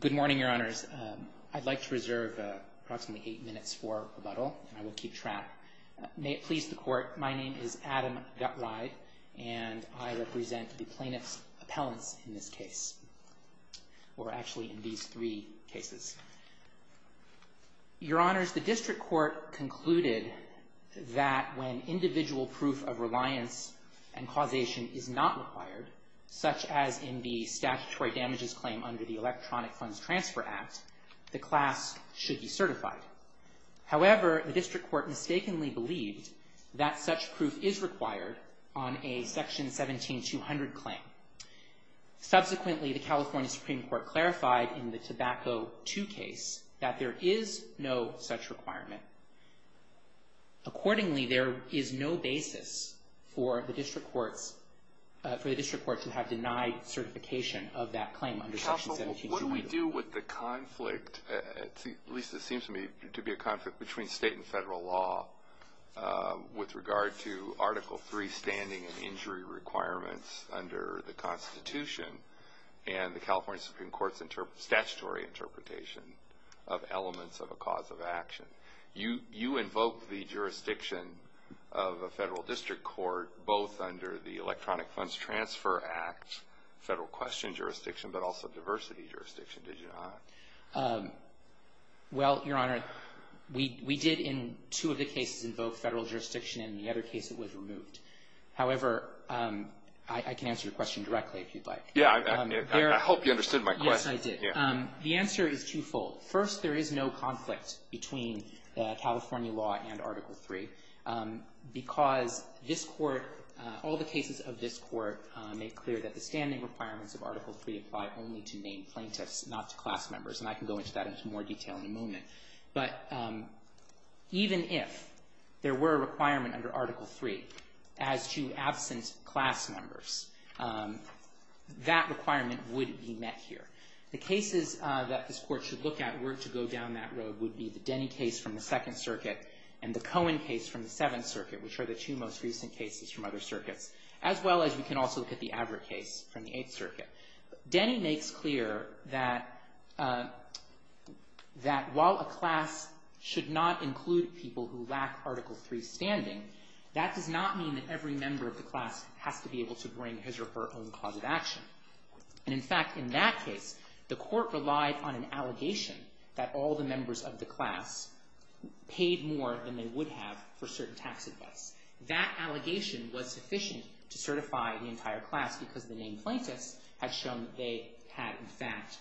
Good morning, Your Honors. I'd like to reserve approximately eight minutes for rebuttal, and I will keep track. May it please the Court, my name is Adam Gutride, and I represent the plaintiff's appellants in this case, or actually in these three cases. Your Honors, the District Court concluded that when individual proof of reliance and causation is not required, such as in the statutory damages claim under the Electronic Funds Transfer Act, the class should be certified. However, the District Court mistakenly believed that such proof is required on a Section 17200 claim. Subsequently, the California Supreme Court clarified in the Tobacco II case that there is no such requirement. Accordingly, there is no basis for the District Courts to have denied certification of that claim under Section 17200. Counsel, what do we do with the conflict, at least it seems to me, to be a conflict between state and federal law, with regard to Article III standing and injury requirements under the Constitution, and the California Supreme Court's statutory interpretation of elements of a cause of action? You invoked the jurisdiction of a federal district court both under the Electronic Funds Transfer Act, federal question jurisdiction, but also diversity jurisdiction, did you not? Well, Your Honor, we did in two of the cases invoke federal jurisdiction, and in the other case it was removed. However, I can answer your question directly if you'd like. Yeah, I hope you understood my question. Yes, I did. The answer is twofold. First, there is no conflict between California law and Article III because this Court, all the cases of this Court make clear that the standing requirements of Article III apply only to named plaintiffs, not to class members, and I can go into that in more detail in a moment. But even if there were a requirement under Article III as to absent class members, that requirement would be met here. The cases that this Court should look at were to go down that road would be the Denny case from the Second Circuit and the Cohen case from the Seventh Circuit, which are the two most recent cases from other circuits, as well as we can also look at the Averitt case from the Eighth Circuit. Denny makes clear that while a class should not include people who lack Article III standing, that does not mean that every member of the class has to be able to bring his or her own cause of action. And in fact, in that case, the Court relied on an allegation that all the members of the class paid more than they would have for certain tax advice. That allegation was sufficient to certify the entire class because the named plaintiffs had shown that they had, in fact,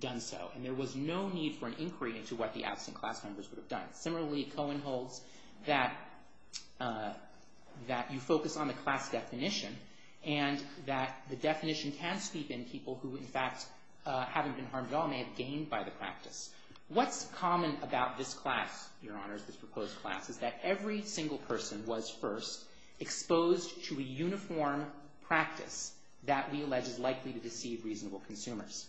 done so. And there was no need for an inquiry into what the absent class members would have done. Similarly, Cohen holds that you focus on the class definition and that the definition can steepen people who, in fact, haven't been harmed at all, may have gained by the practice. What's common about this class, Your Honors, this proposed class, is that every single person was, first, exposed to a uniform practice that we allege is likely to deceive reasonable consumers.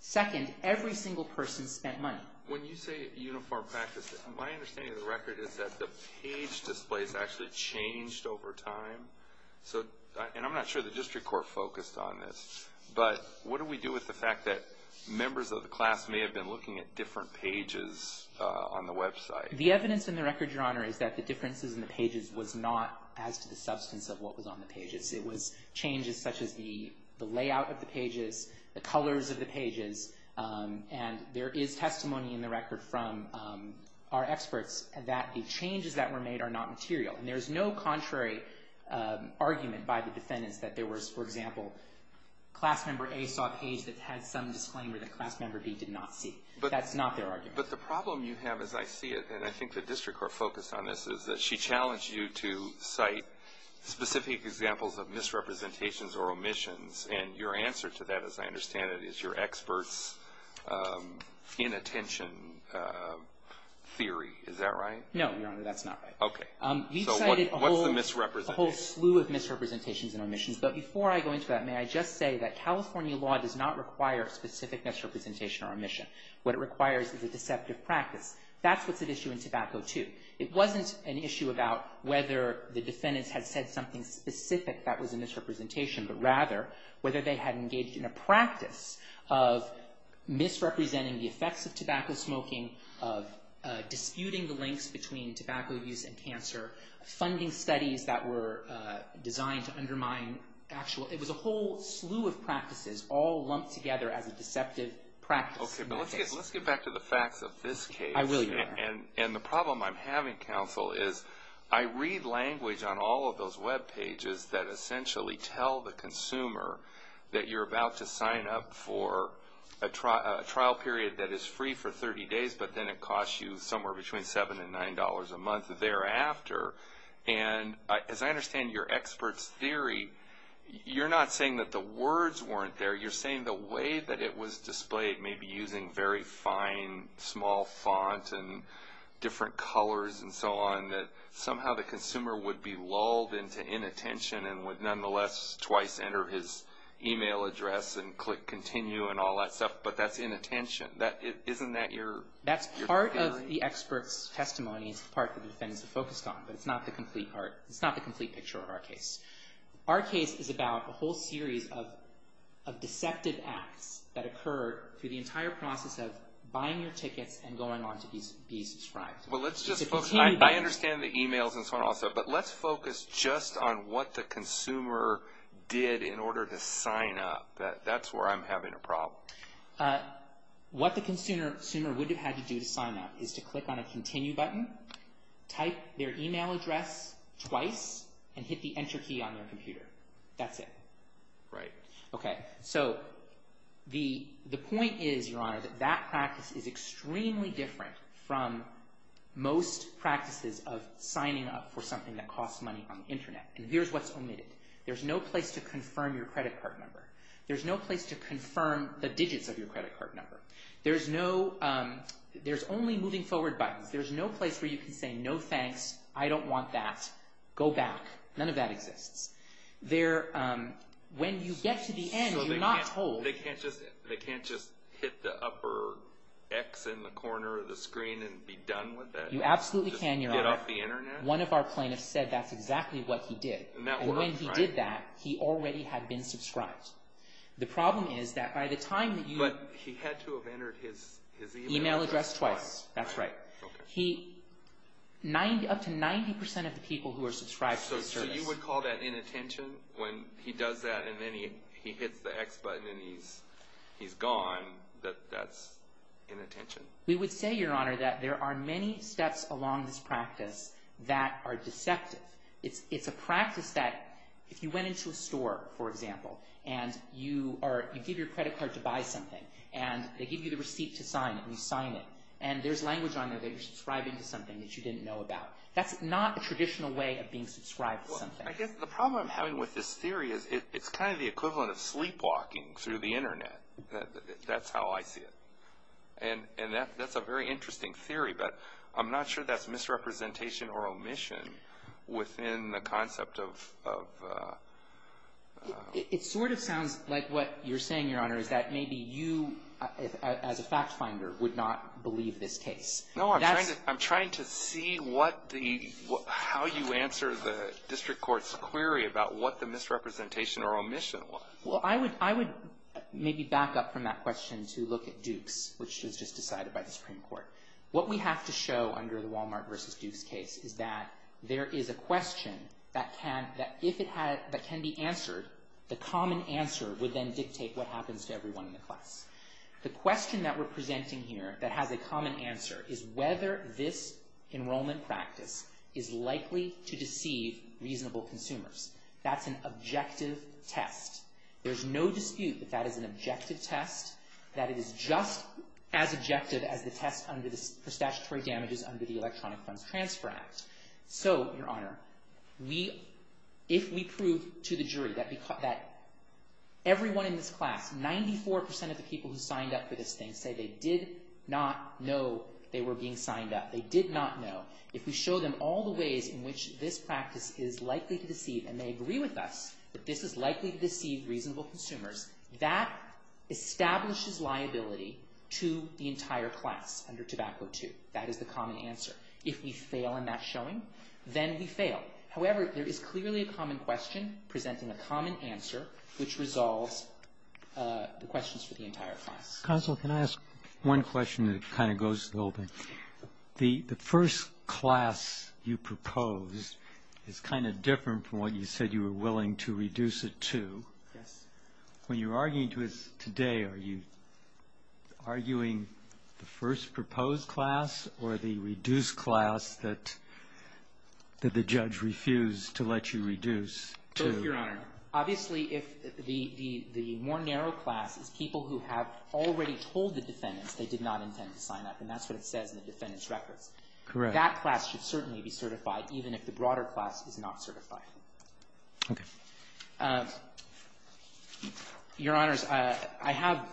Second, every single person spent money. When you say uniform practice, my understanding of the record is that the page displays actually changed over time. And I'm not sure the district court focused on this. But what do we do with the fact that members of the class may have been looking at different pages on the website? The evidence in the record, Your Honor, is that the differences in the pages was not as to the substance of what was on the pages. It was changes such as the layout of the pages, the colors of the pages. And there is testimony in the record from our experts that the changes that were made are not material. And there's no contrary argument by the defendants that there was, for example, class member A saw a page that had some disclaimer that class member B did not see. That's not their argument. But the problem you have, as I see it, and I think the district court focused on this, is that she challenged you to cite specific examples of misrepresentations or omissions. And your answer to that, as I understand it, is your experts' inattention theory. Is that right? No, Your Honor, that's not right. Okay. So what's the misrepresentation? We've cited a whole slew of misrepresentations and omissions. But before I go into that, may I just say that California law does not require specific misrepresentation or omission. What it requires is a deceptive practice. That's what's at issue in Tobacco II. It wasn't an issue about whether the defendants had said something specific that was a misrepresentation, but rather whether they had engaged in a practice of misrepresenting the effects of tobacco smoking, of disputing the links between tobacco use and cancer, funding studies that were designed to undermine actual. It was a whole slew of practices all lumped together as a deceptive practice. Okay. But let's get back to the facts of this case. I will, Your Honor. And the problem I'm having, counsel, is I read language on all of those webpages that essentially tell the consumer that you're about to sign up for a trial period that is free for 30 days, but then it costs you somewhere between $7 and $9 a month thereafter. And as I understand your expert's theory, you're not saying that the words weren't there. You're saying the way that it was displayed, maybe using very fine, small font and different colors and so on, that somehow the consumer would be lulled into inattention and would nonetheless twice enter his email address and click continue and all that stuff, but that's inattention. Isn't that your theory? That's part of the expert's testimony. It's the part that the defendants are focused on, but it's not the complete picture of our case. Our case is about a whole series of deceptive acts that occur through the entire process of buying your tickets and going on to be subscribed. I understand the emails and so on also, but let's focus just on what the consumer did in order to sign up. That's where I'm having a problem. What the consumer would have had to do to sign up is to click on a continue button, type their email address twice, and hit the enter key on their computer. That's it. Right. The point is, Your Honor, that that practice is extremely different from most practices of signing up for something that costs money on the internet, and here's what's omitted. There's no place to confirm your credit card number. There's no place to confirm the digits of your credit card number. There's only moving forward buttons. There's no place where you can say, no thanks, I don't want that, go back. None of that exists. When you get to the end, you're not told. They can't just hit the upper X in the corner of the screen and be done with that? You absolutely can, Your Honor. Just get off the internet? One of our plaintiffs said that's exactly what he did. And that worked, right? And when he did that, he already had been subscribed. The problem is that by the time that you… But he had to have entered his email address twice. Email address twice, that's right. Okay. Up to 90% of the people who are subscribed to this service… That's inattention. When he does that and then he hits the X button and he's gone, that's inattention. We would say, Your Honor, that there are many steps along this practice that are deceptive. It's a practice that if you went into a store, for example, and you give your credit card to buy something, and they give you the receipt to sign it, and you sign it, and there's language on there that you're subscribing to something that you didn't know about. That's not a traditional way of being subscribed to something. I guess the problem I'm having with this theory is it's kind of the equivalent of sleepwalking through the Internet. That's how I see it. And that's a very interesting theory, but I'm not sure that's misrepresentation or omission within the concept of… It sort of sounds like what you're saying, Your Honor, is that maybe you, as a fact finder, would not believe this case. No, I'm trying to see how you answer the district court's query about what the misrepresentation or omission was. Well, I would maybe back up from that question to look at Duke's, which was just decided by the Supreme Court. What we have to show under the Walmart versus Duke's case is that there is a question that can be answered. The common answer would then dictate what happens to everyone in the class. The question that we're presenting here that has a common answer is whether this enrollment practice is likely to deceive reasonable consumers. That's an objective test. There's no dispute that that is an objective test, that it is just as objective as the test for statutory damages under the Electronic Funds Transfer Act. So, Your Honor, if we prove to the jury that everyone in this class, 94% of the people who signed up for this thing, say they did not know they were being signed up, they did not know, if we show them all the ways in which this practice is likely to deceive, and they agree with us that this is likely to deceive reasonable consumers, that establishes liability to the entire class under Tobacco II. That is the common answer. If we fail in that showing, then we fail. However, there is clearly a common question presenting a common answer, which resolves the questions for the entire class. Counsel, can I ask one question that kind of goes to the whole thing? The first class you proposed is kind of different from what you said you were willing to reduce it to. Yes. When you're arguing today, are you arguing the first proposed class or the reduced class that the judge refused to let you reduce to? Your Honor, obviously, if the more narrow class is people who have already told the defendants they did not intend to sign up, and that's what it says in the defendant's records. Correct. That class should certainly be certified, even if the broader class is not certified. Okay. Your Honors, I have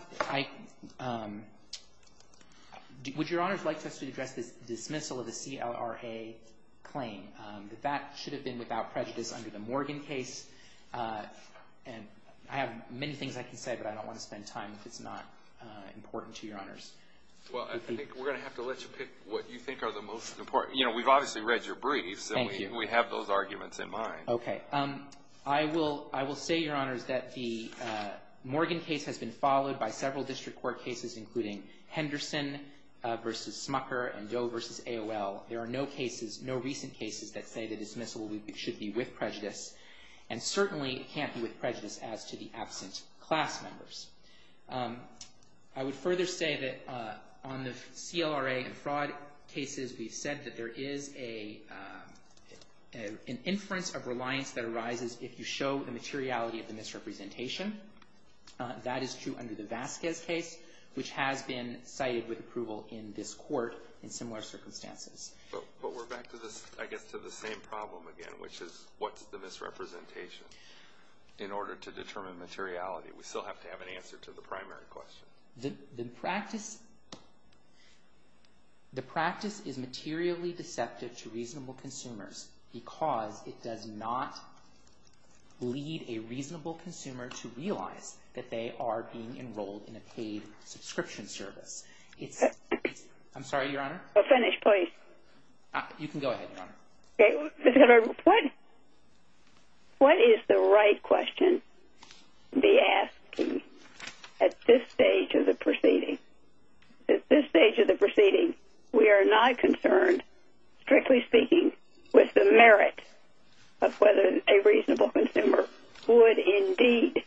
– would Your Honors like for us to address the dismissal of the CLRA claim, that that should have been without prejudice under the Morgan case? And I have many things I can say, but I don't want to spend time if it's not important to Your Honors. Well, I think we're going to have to let you pick what you think are the most important. You know, we've obviously read your briefs. Thank you. And we have those arguments in mind. Okay. I will say, Your Honors, that the Morgan case has been followed by several district court cases, including Henderson v. Smucker and Doe v. AOL. There are no cases, no recent cases, that say the dismissal should be with prejudice. And certainly, it can't be with prejudice as to the absent class members. I would further say that on the CLRA and fraud cases, we've said that there is an inference of reliance that arises if you show the materiality of the misrepresentation. That is true under the Vasquez case, which has been cited with approval in this court in similar circumstances. But we're back to this, I guess, to the same problem again, which is what's the misrepresentation in order to determine materiality? We still have to have an answer to the primary question. The practice is materially deceptive to reasonable consumers because it does not lead a reasonable consumer to realize that they are being enrolled in a paid subscription service. I'm sorry, Your Honor? You can go ahead, Your Honor. What is the right question to be asked at this stage of the proceeding? At this stage of the proceeding, we are not concerned, strictly speaking, with the merit of whether a reasonable consumer would indeed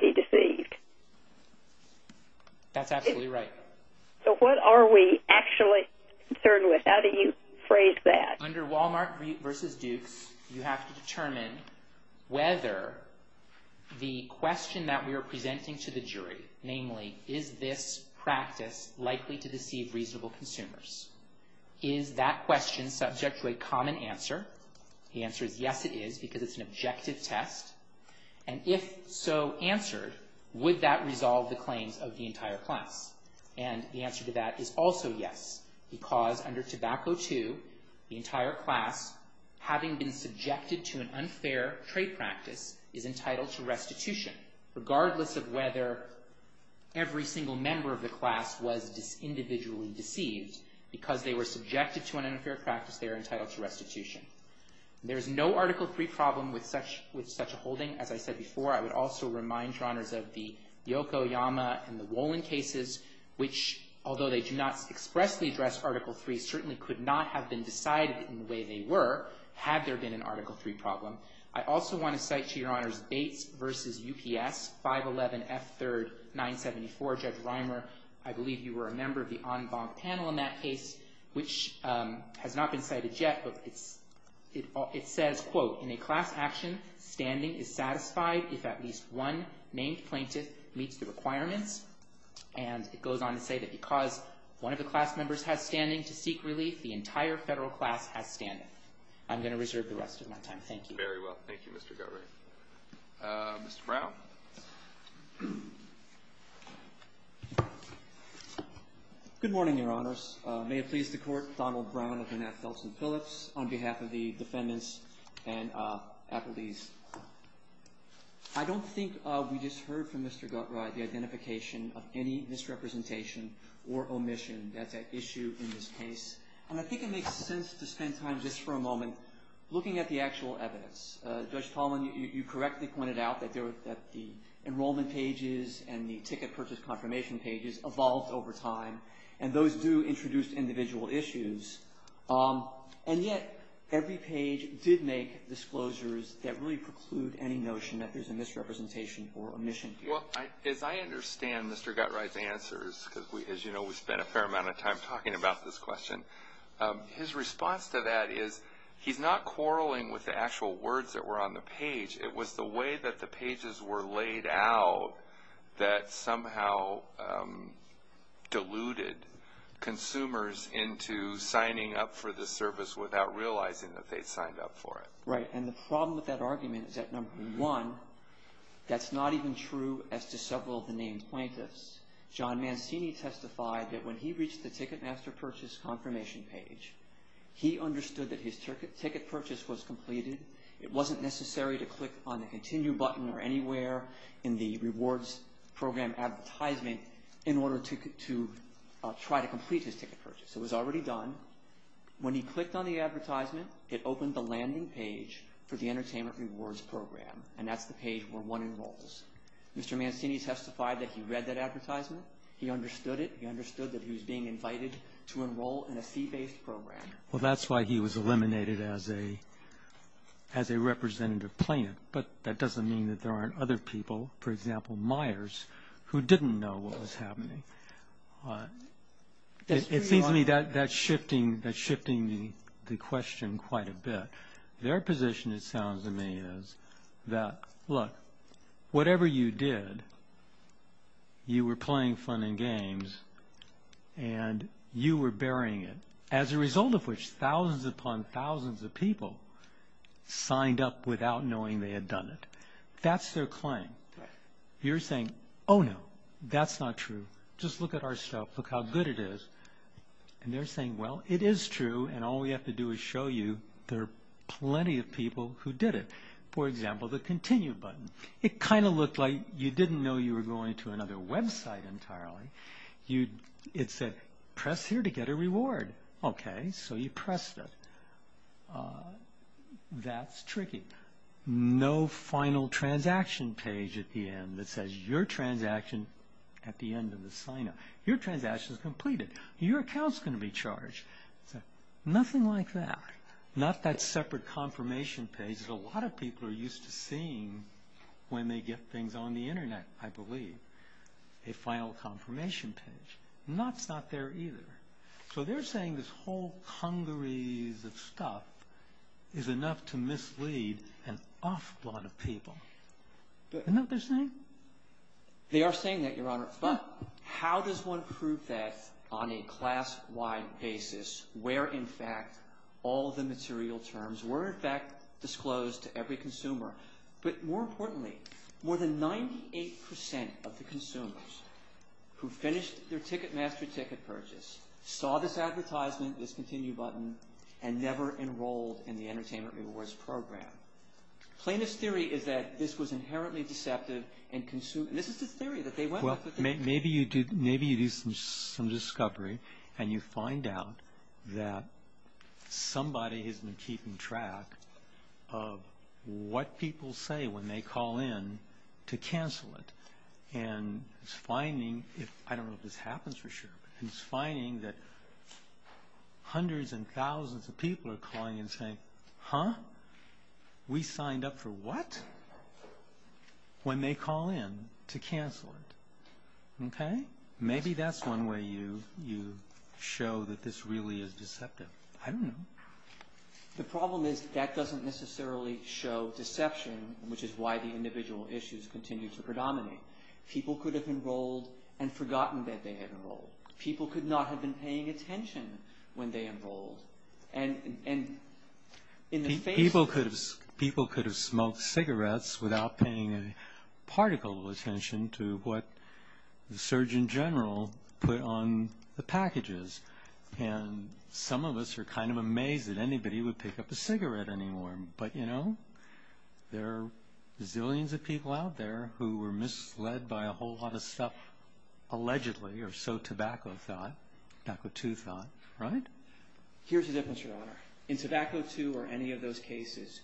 be deceived. That's absolutely right. So what are we actually concerned with? How do you phrase that? Under Walmart v. Dukes, you have to determine whether the question that we are presenting to the jury, namely, is this practice likely to deceive reasonable consumers? Is that question subject to a common answer? The answer is yes, it is, because it's an objective test. And if so answered, would that resolve the claims of the entire class? And the answer to that is also yes, because under Tobacco II, the entire class, having been subjected to an unfair trade practice, is entitled to restitution, regardless of whether every single member of the class was individually deceived. Because they were subjected to an unfair practice, they are entitled to restitution. There is no Article III problem with such a holding. As I said before, I would also remind Your Honors of the Yokoyama and the Wolin cases, which, although they do not expressly address Article III, certainly could not have been decided in the way they were, had there been an Article III problem. I also want to cite, to Your Honors, Bates v. UPS, 511F3-974. Judge Reimer, I believe you were a member of the en banc panel in that case, which has not been cited yet. But it says, quote, in a class action, standing is satisfied if at least one named plaintiff meets the requirements. And it goes on to say that because one of the class members has standing to seek relief, the entire federal class has standing. I'm going to reserve the rest of my time. Thank you. Very well. Thank you, Mr. Guthrie. Mr. Brown? Good morning, Your Honors. May it please the Court, Donald Brown of the Nass-Phelps and Phillips, on behalf of the defendants and appellees. I don't think we just heard from Mr. Guthrie the identification of any misrepresentation or omission that's at issue in this case. And I think it makes sense to spend time just for a moment looking at the actual evidence. Judge Tallman, you correctly pointed out that the enrollment pages and the ticket purchase confirmation pages evolved over time. And those do introduce individual issues. And yet every page did make disclosures that really preclude any notion that there's a misrepresentation or omission here. Well, as I understand Mr. Guthrie's answers, because, as you know, we spent a fair amount of time talking about this question, his response to that is he's not quarreling with the actual words that were on the page. It was the way that the pages were laid out that somehow deluded consumers into signing up for the service without realizing that they'd signed up for it. Right. And the problem with that argument is that, number one, that's not even true as to several of the named plaintiffs. John Mancini testified that when he reached the ticket master purchase confirmation page, he understood that his ticket purchase was completed. It wasn't necessary to click on the continue button or anywhere in the rewards program advertisement in order to try to complete his ticket purchase. It was already done. When he clicked on the advertisement, it opened the landing page for the entertainment rewards program. And that's the page where one enrolls. Mr. Mancini testified that he read that advertisement. He understood it. He understood that he was being invited to enroll in a fee-based program. Well, that's why he was eliminated as a representative plaintiff. But that doesn't mean that there aren't other people, for example, Myers, who didn't know what was happening. It seems to me that's shifting the question quite a bit. Their position, it sounds to me, is that, look, whatever you did, you were playing fun and games, and you were burying it. As a result of which, thousands upon thousands of people signed up without knowing they had done it. That's their claim. You're saying, oh, no, that's not true. Just look at our stuff. Look how good it is. And they're saying, well, it is true, and all we have to do is show you there are plenty of people who did it. For example, the continue button. It kind of looked like you didn't know you were going to another website entirely. It said, press here to get a reward. Okay, so you pressed it. That's tricky. No final transaction page at the end that says your transaction at the end of the sign-up. Your transaction is completed. Your account is going to be charged. Nothing like that. Not that separate confirmation page that a lot of people are used to seeing when they get things on the Internet, I believe. A final confirmation page. That's not there either. So they're saying this whole congeries of stuff is enough to mislead an awful lot of people. Isn't that what they're saying? They are saying that, Your Honor, but how does one prove that on a class-wide basis where, in fact, all the material terms were, in fact, disclosed to every consumer? But more importantly, more than 98% of the consumers who finished their Ticketmaster ticket purchase saw this advertisement, this continue button, and never enrolled in the Entertainment Rewards Program. Plainest theory is that this was inherently deceptive. This is the theory that they went with. Maybe you do some discovery and you find out that somebody has been keeping track of what people say when they call in to cancel it. And it's finding, I don't know if this happens for sure, but it's finding that hundreds and thousands of people are calling and saying, Huh? We signed up for what? When they call in to cancel it. Maybe that's one way you show that this really is deceptive. I don't know. The problem is that doesn't necessarily show deception, which is why the individual issues continue to predominate. People could have enrolled and forgotten that they had enrolled. People could not have been paying attention when they enrolled. People could have smoked cigarettes without paying a particle of attention to what the Surgeon General put on the packages. And some of us are kind of amazed that anybody would pick up a cigarette anymore. But you know, there are zillions of people out there who were misled by a whole lot of stuff, allegedly, or so tobacco thought, tobacco 2 thought, right? Here's the difference, Your Honor. In tobacco 2 or any of those cases,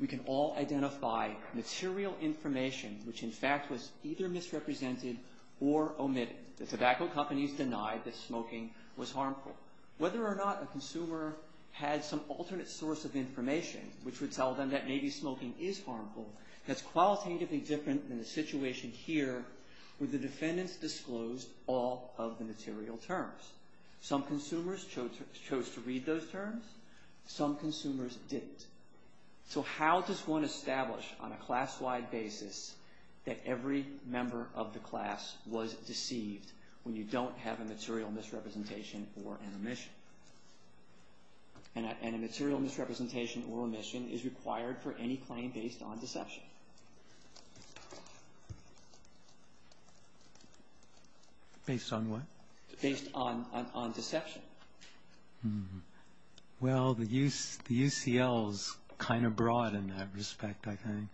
we can all identify material information which in fact was either misrepresented or omitted. The tobacco companies denied that smoking was harmful. Whether or not a consumer had some alternate source of information which would tell them that maybe smoking is harmful, that's qualitatively different than the situation here where the defendants disclosed all of the material terms. Some consumers chose to read those terms. Some consumers didn't. So how does one establish on a class-wide basis that every member of the class was deceived when you don't have a material misrepresentation or an omission? And a material misrepresentation or omission is required for any claim based on deception. Based on what? Based on deception. Well, the UCL is kind of broad in that respect, I think.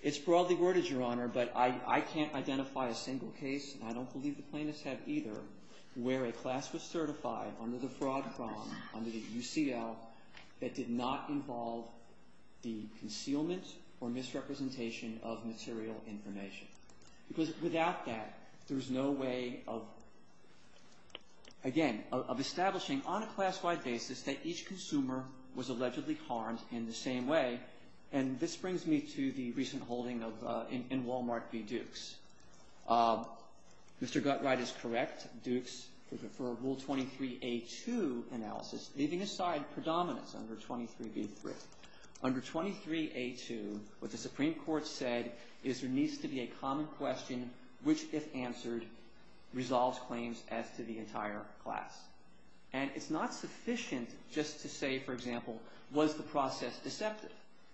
It's broadly worded, Your Honor, but I can't identify a single case, and I don't believe the plaintiffs have either, where a class was certified under the fraud prong under the UCL that did not involve the concealment or misrepresentation of material information. Because without that, there's no way of, again, of establishing on a class-wide basis that each consumer was allegedly harmed in the same way. And this brings me to the recent holding in Wal-Mart v. Dukes. Mr. Guttreid is correct, Dukes, for Rule 23a2 analysis, leaving aside predominance under 23b3. Under 23a2, what the Supreme Court said is there needs to be a common question which, if answered, resolves claims as to the entire class. And it's not sufficient just to say, for example, was the process deceptive?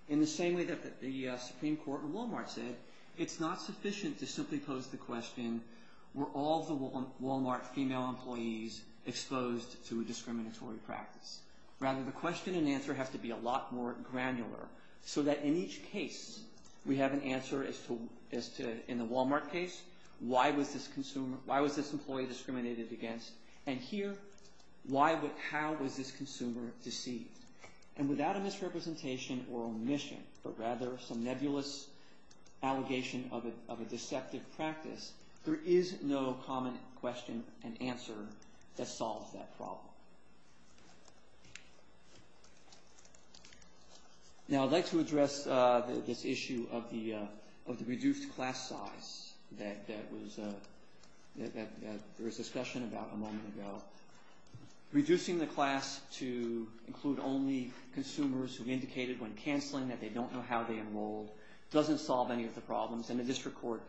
In the same way that the Supreme Court in Wal-Mart said, it's not sufficient to simply pose the question, were all the Wal-Mart female employees exposed to a discriminatory practice? Rather, the question and answer has to be a lot more granular so that in each case, we have an answer as to, in the Wal-Mart case, why was this employee discriminated against? And here, how was this consumer deceived? And without a misrepresentation or omission, but rather some nebulous allegation of a deceptive practice, there is no common question and answer that solves that problem. Now, I'd like to address this issue of the reduced class size that there was discussion about a moment ago. Reducing the class to include only consumers who indicated when canceling that they don't know how they enrolled doesn't solve any of the problems, and the district court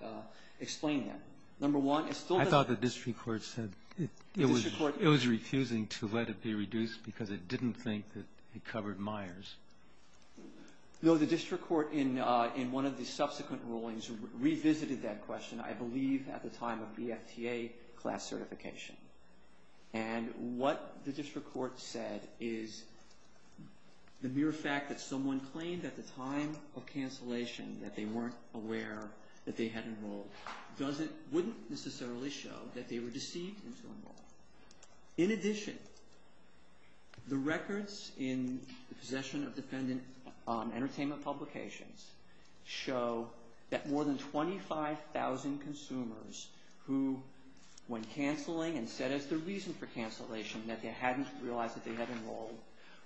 explained that. Number one, it still does. I thought the district court said it was refusing to let it be reduced because it didn't think that it covered Myers. No, the district court in one of the subsequent rulings revisited that question, I believe, at the time of BFTA class certification. And what the district court said is the mere fact that someone claimed at the time of cancellation that they weren't aware that they had enrolled wouldn't necessarily show that they were deceived into enrolling. In addition, the records in the Possession of Defendant Entertainment publications show that more than 25,000 consumers who, when canceling, and said as their reason for cancellation that they hadn't realized that they had enrolled,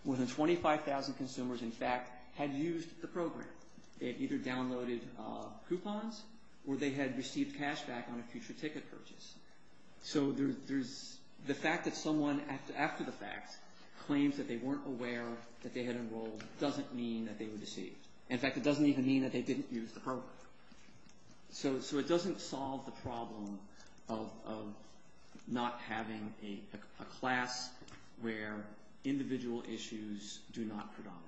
more than 25,000 consumers, in fact, had used the program. They had either downloaded coupons or they had received cash back on a future ticket purchase. So the fact that someone, after the fact, claims that they weren't aware that they had enrolled doesn't mean that they were deceived. In fact, it doesn't even mean that they didn't use the program. So it doesn't solve the problem of not having a class where individual issues do not predominate.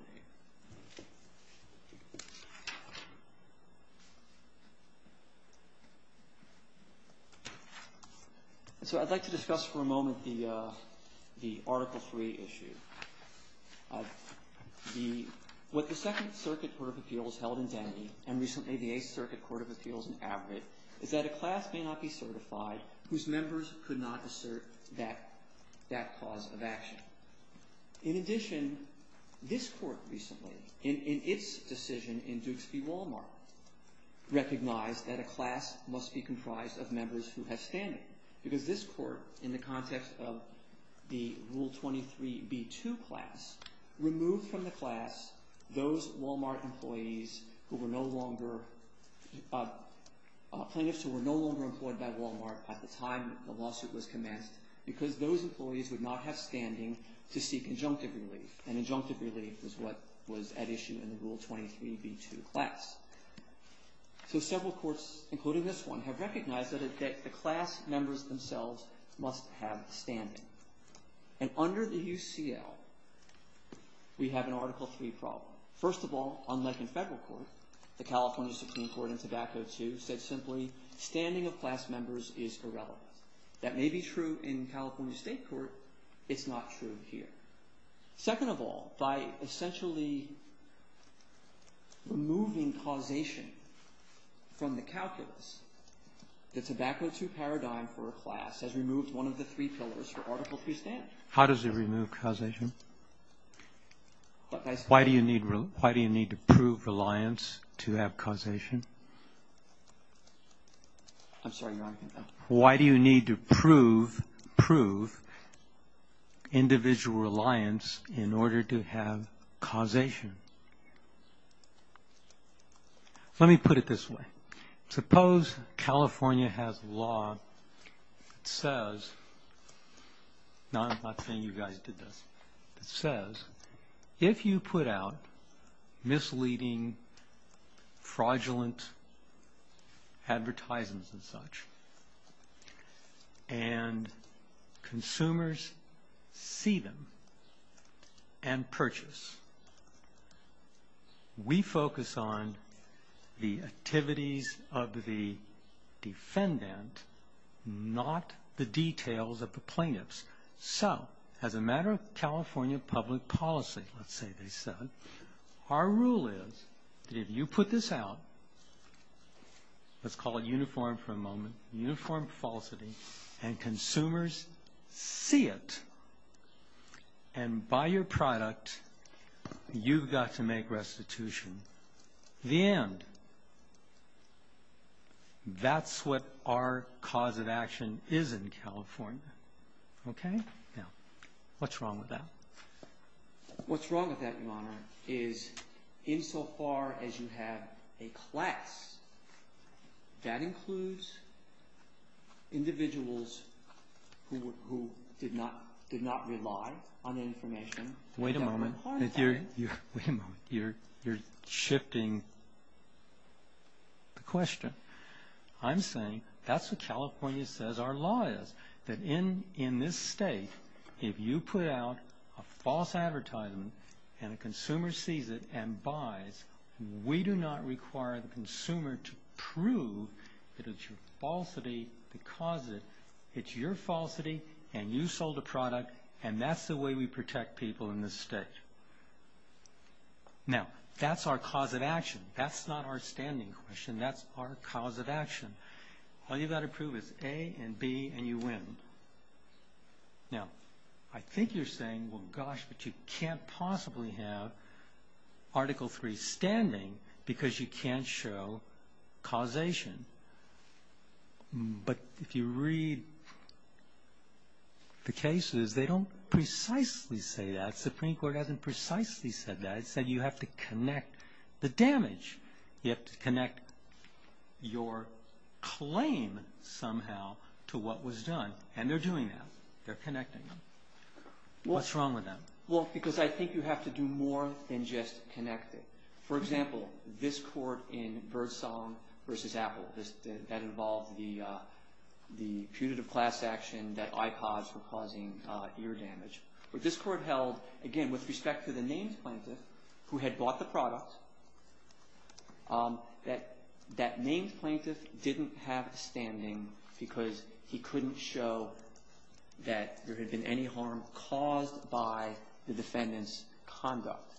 So I'd like to discuss for a moment the Article III issue. What the Second Circuit Court of Appeals held in Denny and recently the Eighth Circuit Court of Appeals in Abbott is that a class may not be certified whose members could not assert that cause of action. In addition, this court recently, in its decision in Dukes v. Walmart, recognized that a class must be comprised of members who have standing because this court, in the context of the Rule 23b2 class, removed from the class plaintiffs who were no longer employed by Walmart at the time the lawsuit was commenced because those employees would not have standing to seek injunctive relief. And injunctive relief was what was at issue in the Rule 23b2 class. So several courts, including this one, have recognized that the class members themselves must have standing. And under the UCL, we have an Article III problem. First of all, unlike in federal court, the California Supreme Court in Tobacco II said simply, standing of class members is irrelevant. That may be true in California State Court. It's not true here. Second of all, by essentially removing causation from the calculus, the Tobacco II paradigm for a class has removed one of the three pillars for Article III standing. How does it remove causation? Why do you need to prove reliance to have causation? I'm sorry, Your Honor. Why do you need to prove individual reliance in order to have causation? Let me put it this way. Suppose California has a law that says, I'm not saying you guys did this, if you put out misleading, fraudulent advertisements and such, and consumers see them and purchase, we focus on the activities of the defendant, not the details of the plaintiffs. So, as a matter of California public policy, let's say they said, our rule is that if you put this out, let's call it uniform for a moment, uniform falsity, and consumers see it and buy your product, you've got to make restitution. The end. That's what our cause of action is in California. Okay? Now, what's wrong with that? What's wrong with that, Your Honor, is insofar as you have a class, that includes individuals who did not rely on information. Wait a moment. Wait a moment. You're shifting the question. I'm saying that's what California says our law is, that in this state, if you put out a false advertisement and a consumer sees it and buys, we do not require the consumer to prove that it's your falsity because it's your falsity and you sold a product and that's the way we protect people in this state. Now, that's our cause of action. That's not our standing question. That's our cause of action. All you've got to prove is A and B and you win. Now, I think you're saying, well, gosh, but you can't possibly have Article 3 standing because you can't show causation. But if you read the cases, they don't precisely say that. The Supreme Court hasn't precisely said that. It said you have to connect the damage. You have to connect your claim somehow to what was done and they're doing that. They're connecting them. What's wrong with that? Well, because I think you have to do more than just connect it. For example, this court in Birdsong v. Apple, that involved the putative class action that I caused for causing ear damage. This court held, again, with respect to the names plaintiff who had bought the product, that that named plaintiff didn't have standing because he couldn't show that there had been any harm caused by the defendant's conduct.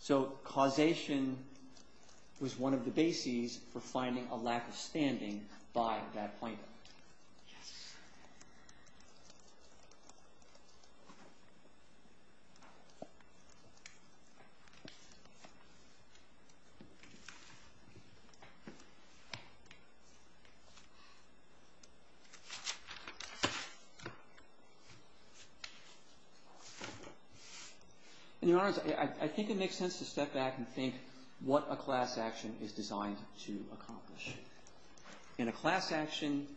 So causation was one of the bases for finding a lack of standing by that plaintiff. Yes. In other words, I think it makes sense to step back and think what a class action is designed to accomplish. In a class action,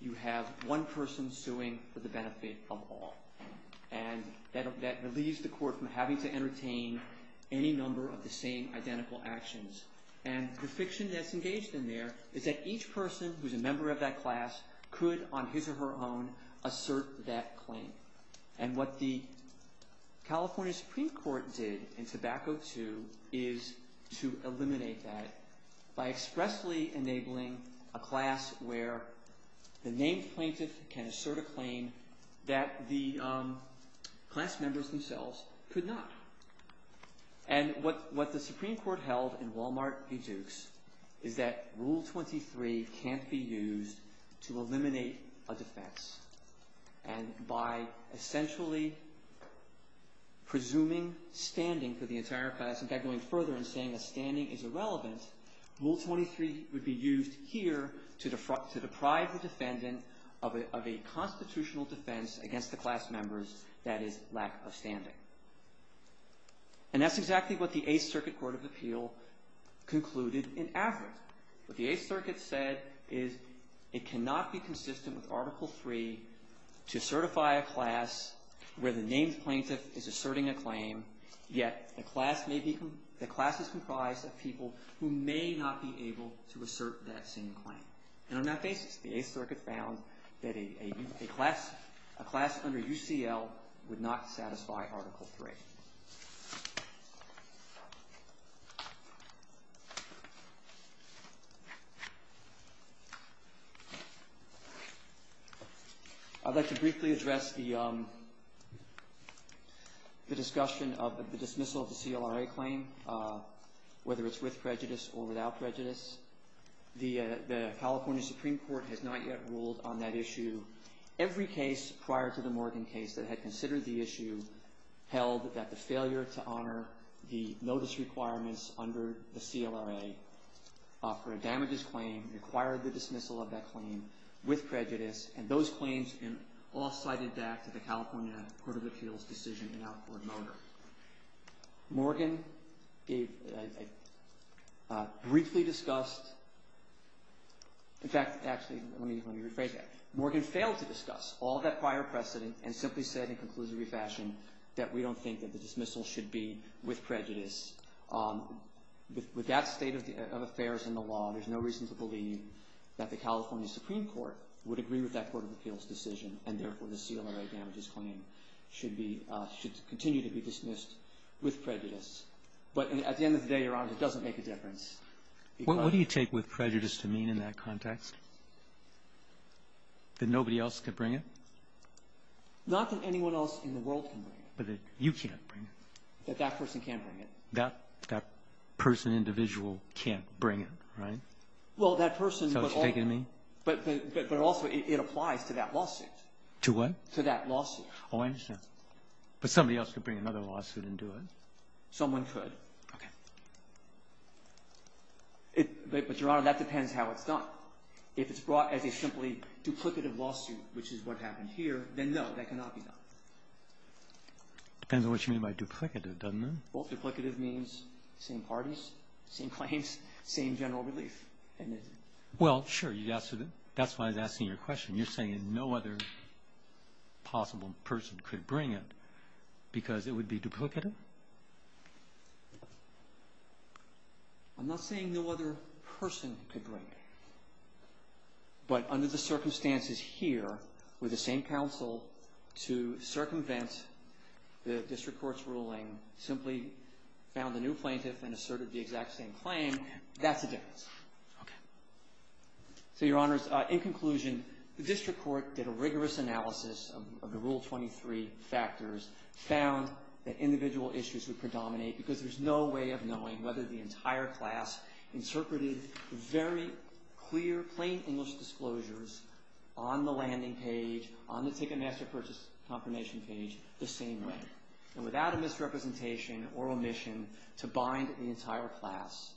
you have one person suing for the benefit of all and that relieves the court from having to entertain any number of the same identical actions. And the fiction that's engaged in there is that each person who's a member of that class could, on his or her own, assert that claim. And what the California Supreme Court did in Tobacco II is to eliminate that by expressly enabling a class where the named plaintiff can assert a claim that the class members themselves could not. And what the Supreme Court held in Walmart v. Dukes is that Rule 23 can't be used to eliminate a defense. And by essentially presuming standing for the entire class, in fact, going further and saying that standing is irrelevant, Rule 23 would be used here to deprive the defendant of a constitutional defense against the class members, that is, lack of standing. And that's exactly what the Eighth Circuit Court of Appeal concluded in Averitt. What the Eighth Circuit said is it cannot be consistent with Article III to certify a class where the named plaintiff is asserting a claim, yet the class is comprised of people who may not be able to assert that same claim. And on that basis, the Eighth Circuit found that a class under UCL would not satisfy Article III. Thank you. I'd like to briefly address the discussion of the dismissal of the CLRA claim, whether it's with prejudice or without prejudice. The California Supreme Court has not yet ruled on that issue. Every case prior to the Morgan case that had considered the issue held that the failure to honor the notice requirements under the CLRA for a damages claim required the dismissal of that claim with prejudice, and those claims all cited back to the California Court of Appeals decision in Alford Motor. Morgan gave a briefly discussed, in fact, actually, let me rephrase that. Morgan failed to discuss all that prior precedent and simply said in a conclusive fashion that we don't think that the dismissal should be with prejudice. With that state of affairs in the law, there's no reason to believe that the California Supreme Court would agree with that Court of Appeals decision, and therefore the CLRA damages claim should continue to be dismissed with prejudice. But at the end of the day, Your Honor, it doesn't make a difference. What do you take with prejudice to mean in that context? That nobody else can bring it? Not that anyone else in the world can bring it. But that you can't bring it. That that person can't bring it. That person, individual, can't bring it, right? Well, that person, but also it applies to that lawsuit. To what? To that lawsuit. Oh, I understand. But somebody else could bring another lawsuit and do it. Someone could. Okay. But, Your Honor, that depends how it's done. If it's brought as a simply duplicative lawsuit, which is what happened here, then no, that cannot be done. Depends on what you mean by duplicative, doesn't it? Well, duplicative means same parties, same claims, same general relief. And you're saying no other possible person could bring it because it would be duplicative? I'm not saying no other person could bring it. But under the circumstances here, with the same counsel to circumvent the district court's ruling, simply found a new plaintiff and asserted the exact same claim, that's the difference. Okay. So, Your Honors, in conclusion, the district court did a rigorous analysis of the Rule 23 factors, found that individual issues would predominate because there's no way of knowing whether the entire class interpreted very clear, plain English disclosures on the landing page, on the Ticketmaster Purchase Confirmation page, the same way. And without a misrepresentation or omission to bind the entire class,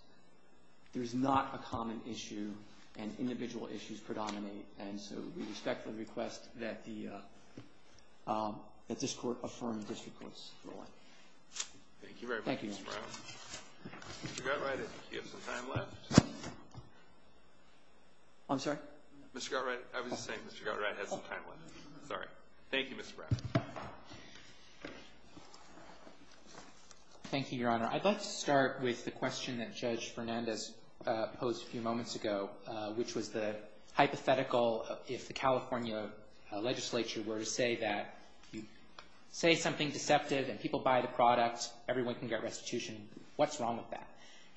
there's not a common issue and individual issues predominate. And so we respectfully request that this Court affirm the district court's ruling. Thank you very much, Mr. Brown. Thank you, Your Honor. Mr. Gottfried, I think you have some time left. I'm sorry? Mr. Gottfried, I was just saying Mr. Gottfried had some time left. Sorry. Thank you, Mr. Brown. Thank you, Your Honor. I'd like to start with the question that Judge Fernandez posed a few moments ago, which was the hypothetical if the California legislature were to say that you say something deceptive and people buy the product, everyone can get restitution, what's wrong with that?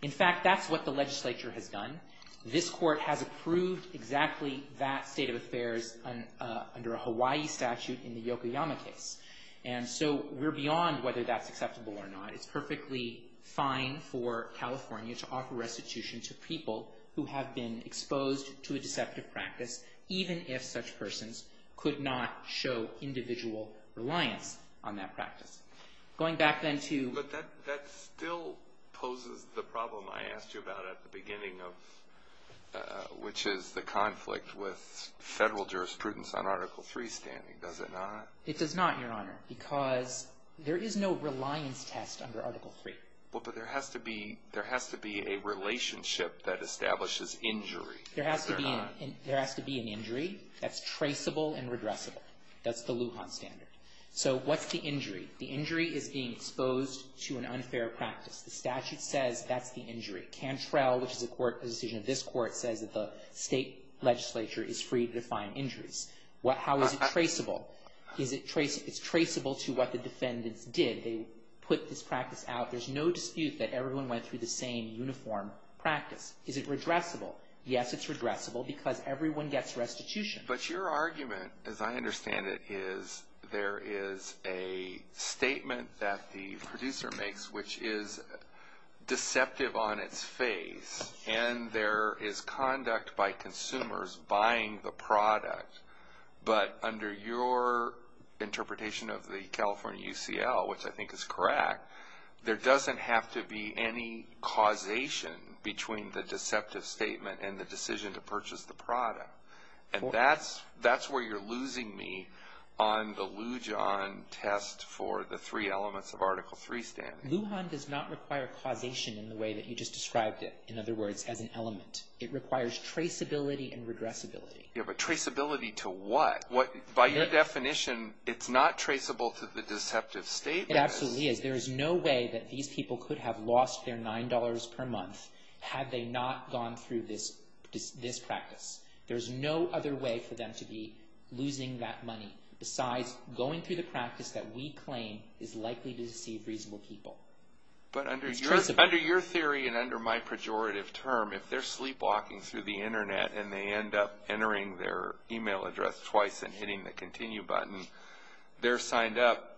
In fact, that's what the legislature has done. This Court has approved exactly that state of affairs under a Hawaii statute in the Yokoyama case. And so we're beyond whether that's acceptable or not. It's perfectly fine for California to offer restitution to people who have been exposed to a deceptive practice, even if such persons could not show individual reliance on that practice. Going back then to- That still poses the problem I asked you about at the beginning, which is the conflict with federal jurisprudence on Article III standing, does it not? It does not, Your Honor, because there is no reliance test under Article III. But there has to be a relationship that establishes injury. There has to be an injury that's traceable and regressible. That's the Lujan standard. So what's the injury? The injury is being exposed to an unfair practice. The statute says that's the injury. Cantrell, which is a decision of this Court, says that the state legislature is free to define injuries. How is it traceable? It's traceable to what the defendants did. They put this practice out. There's no dispute that everyone went through the same uniform practice. Is it regressible? Yes, it's regressible because everyone gets restitution. But your argument, as I understand it, is there is a statement that the producer makes, which is deceptive on its face, and there is conduct by consumers buying the product. But under your interpretation of the California UCL, which I think is correct, there doesn't have to be any causation between the deceptive statement and the decision to purchase the product. And that's where you're losing me on the Lujan test for the three elements of Article III standing. Lujan does not require causation in the way that you just described it, in other words, as an element. It requires traceability and regressibility. Yeah, but traceability to what? By your definition, it's not traceable to the deceptive statement. It absolutely is. There is no way that these people could have lost their $9 per month had they not gone through this practice. There is no other way for them to be losing that money besides going through the practice that we claim is likely to deceive reasonable people. But under your theory and under my pejorative term, if they're sleepwalking through the Internet and they end up entering their email address twice and hitting the continue button, they're signed up,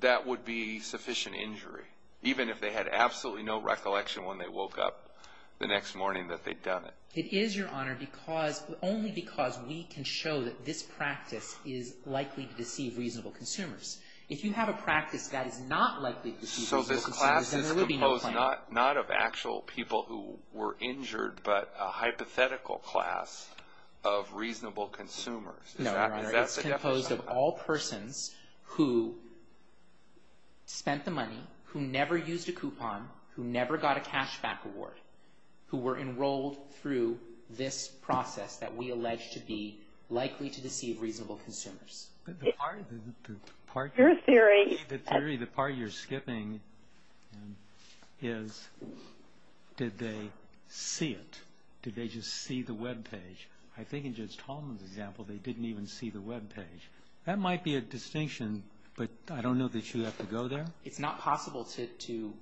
that would be sufficient injury, even if they had absolutely no recollection when they woke up the next morning that they'd done it. It is, Your Honor, only because we can show that this practice is likely to deceive reasonable consumers. If you have a practice that is not likely to deceive reasonable consumers, then there would be no claim. So this class is composed not of actual people who were injured, but a hypothetical class of reasonable consumers. No, Your Honor, it's composed of all persons who spent the money, who never used a coupon, who never got a cashback reward, who were enrolled through this process that we allege to be likely to deceive reasonable consumers. But the part you're skipping is did they see it? Did they just see the webpage? I think in Judge Tolman's example, they didn't even see the webpage. That might be a distinction, but I don't know that you have to go there. It's not possible to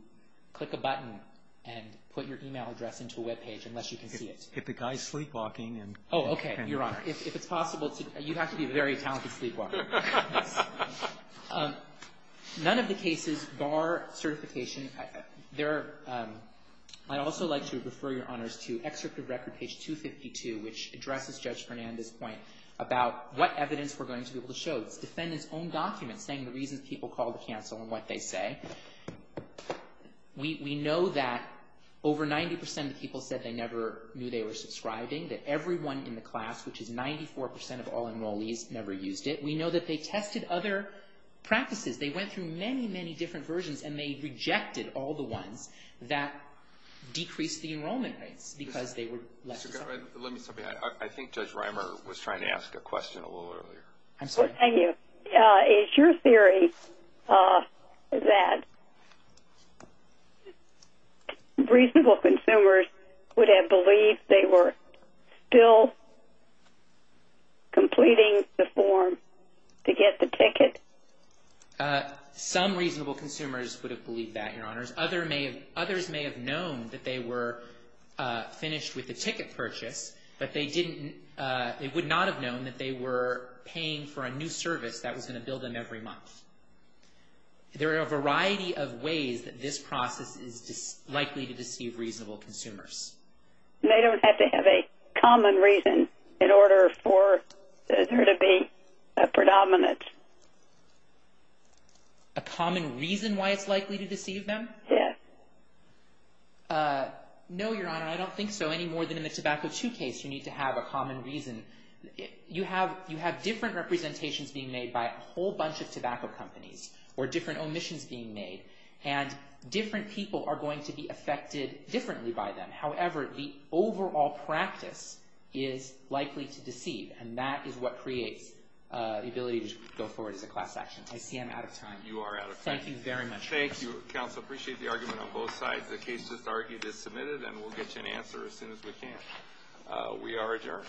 click a button and put your e-mail address into a webpage unless you can see it. If the guy is sleepwalking. Oh, okay, Your Honor. If it's possible to, you have to be a very talented sleepwalker. None of the cases bar certification. There are, I'd also like to refer Your Honors to Extractive Record page 252, which addresses Judge Fernandez's point about what evidence we're going to be able to show. It's defendant's own document saying the reasons people called the counsel and what they say. We know that over 90% of the people said they never knew they were subscribing, that everyone in the class, which is 94% of all enrollees, never used it. We know that they tested other practices. They went through many, many different versions, and they rejected all the ones that decreased the enrollment rates because they were left to suffer. Let me stop you. I think Judge Reimer was trying to ask a question a little earlier. I'm sorry. Thank you. Is your theory that reasonable consumers would have believed they were still completing the form to get the ticket? Some reasonable consumers would have believed that, Your Honors. Others may have known that they were finished with the ticket purchase, but they would not have known that they were paying for a new service that was going to bill them every month. There are a variety of ways that this process is likely to deceive reasonable consumers. They don't have to have a common reason in order for there to be a predominance. A common reason why it's likely to deceive them? Yes. No, Your Honor. I don't think so any more than in the Tobacco II case. You need to have a common reason. You have different representations being made by a whole bunch of tobacco companies or different omissions being made, and different people are going to be affected differently by them. However, the overall practice is likely to deceive, and that is what creates the ability to go forward as a class action. I see I'm out of time. You are out of time. Thank you very much. Thank you, Counsel. I appreciate the argument on both sides. The case just argued is submitted, and we'll get you an answer as soon as we can. We are adjourned.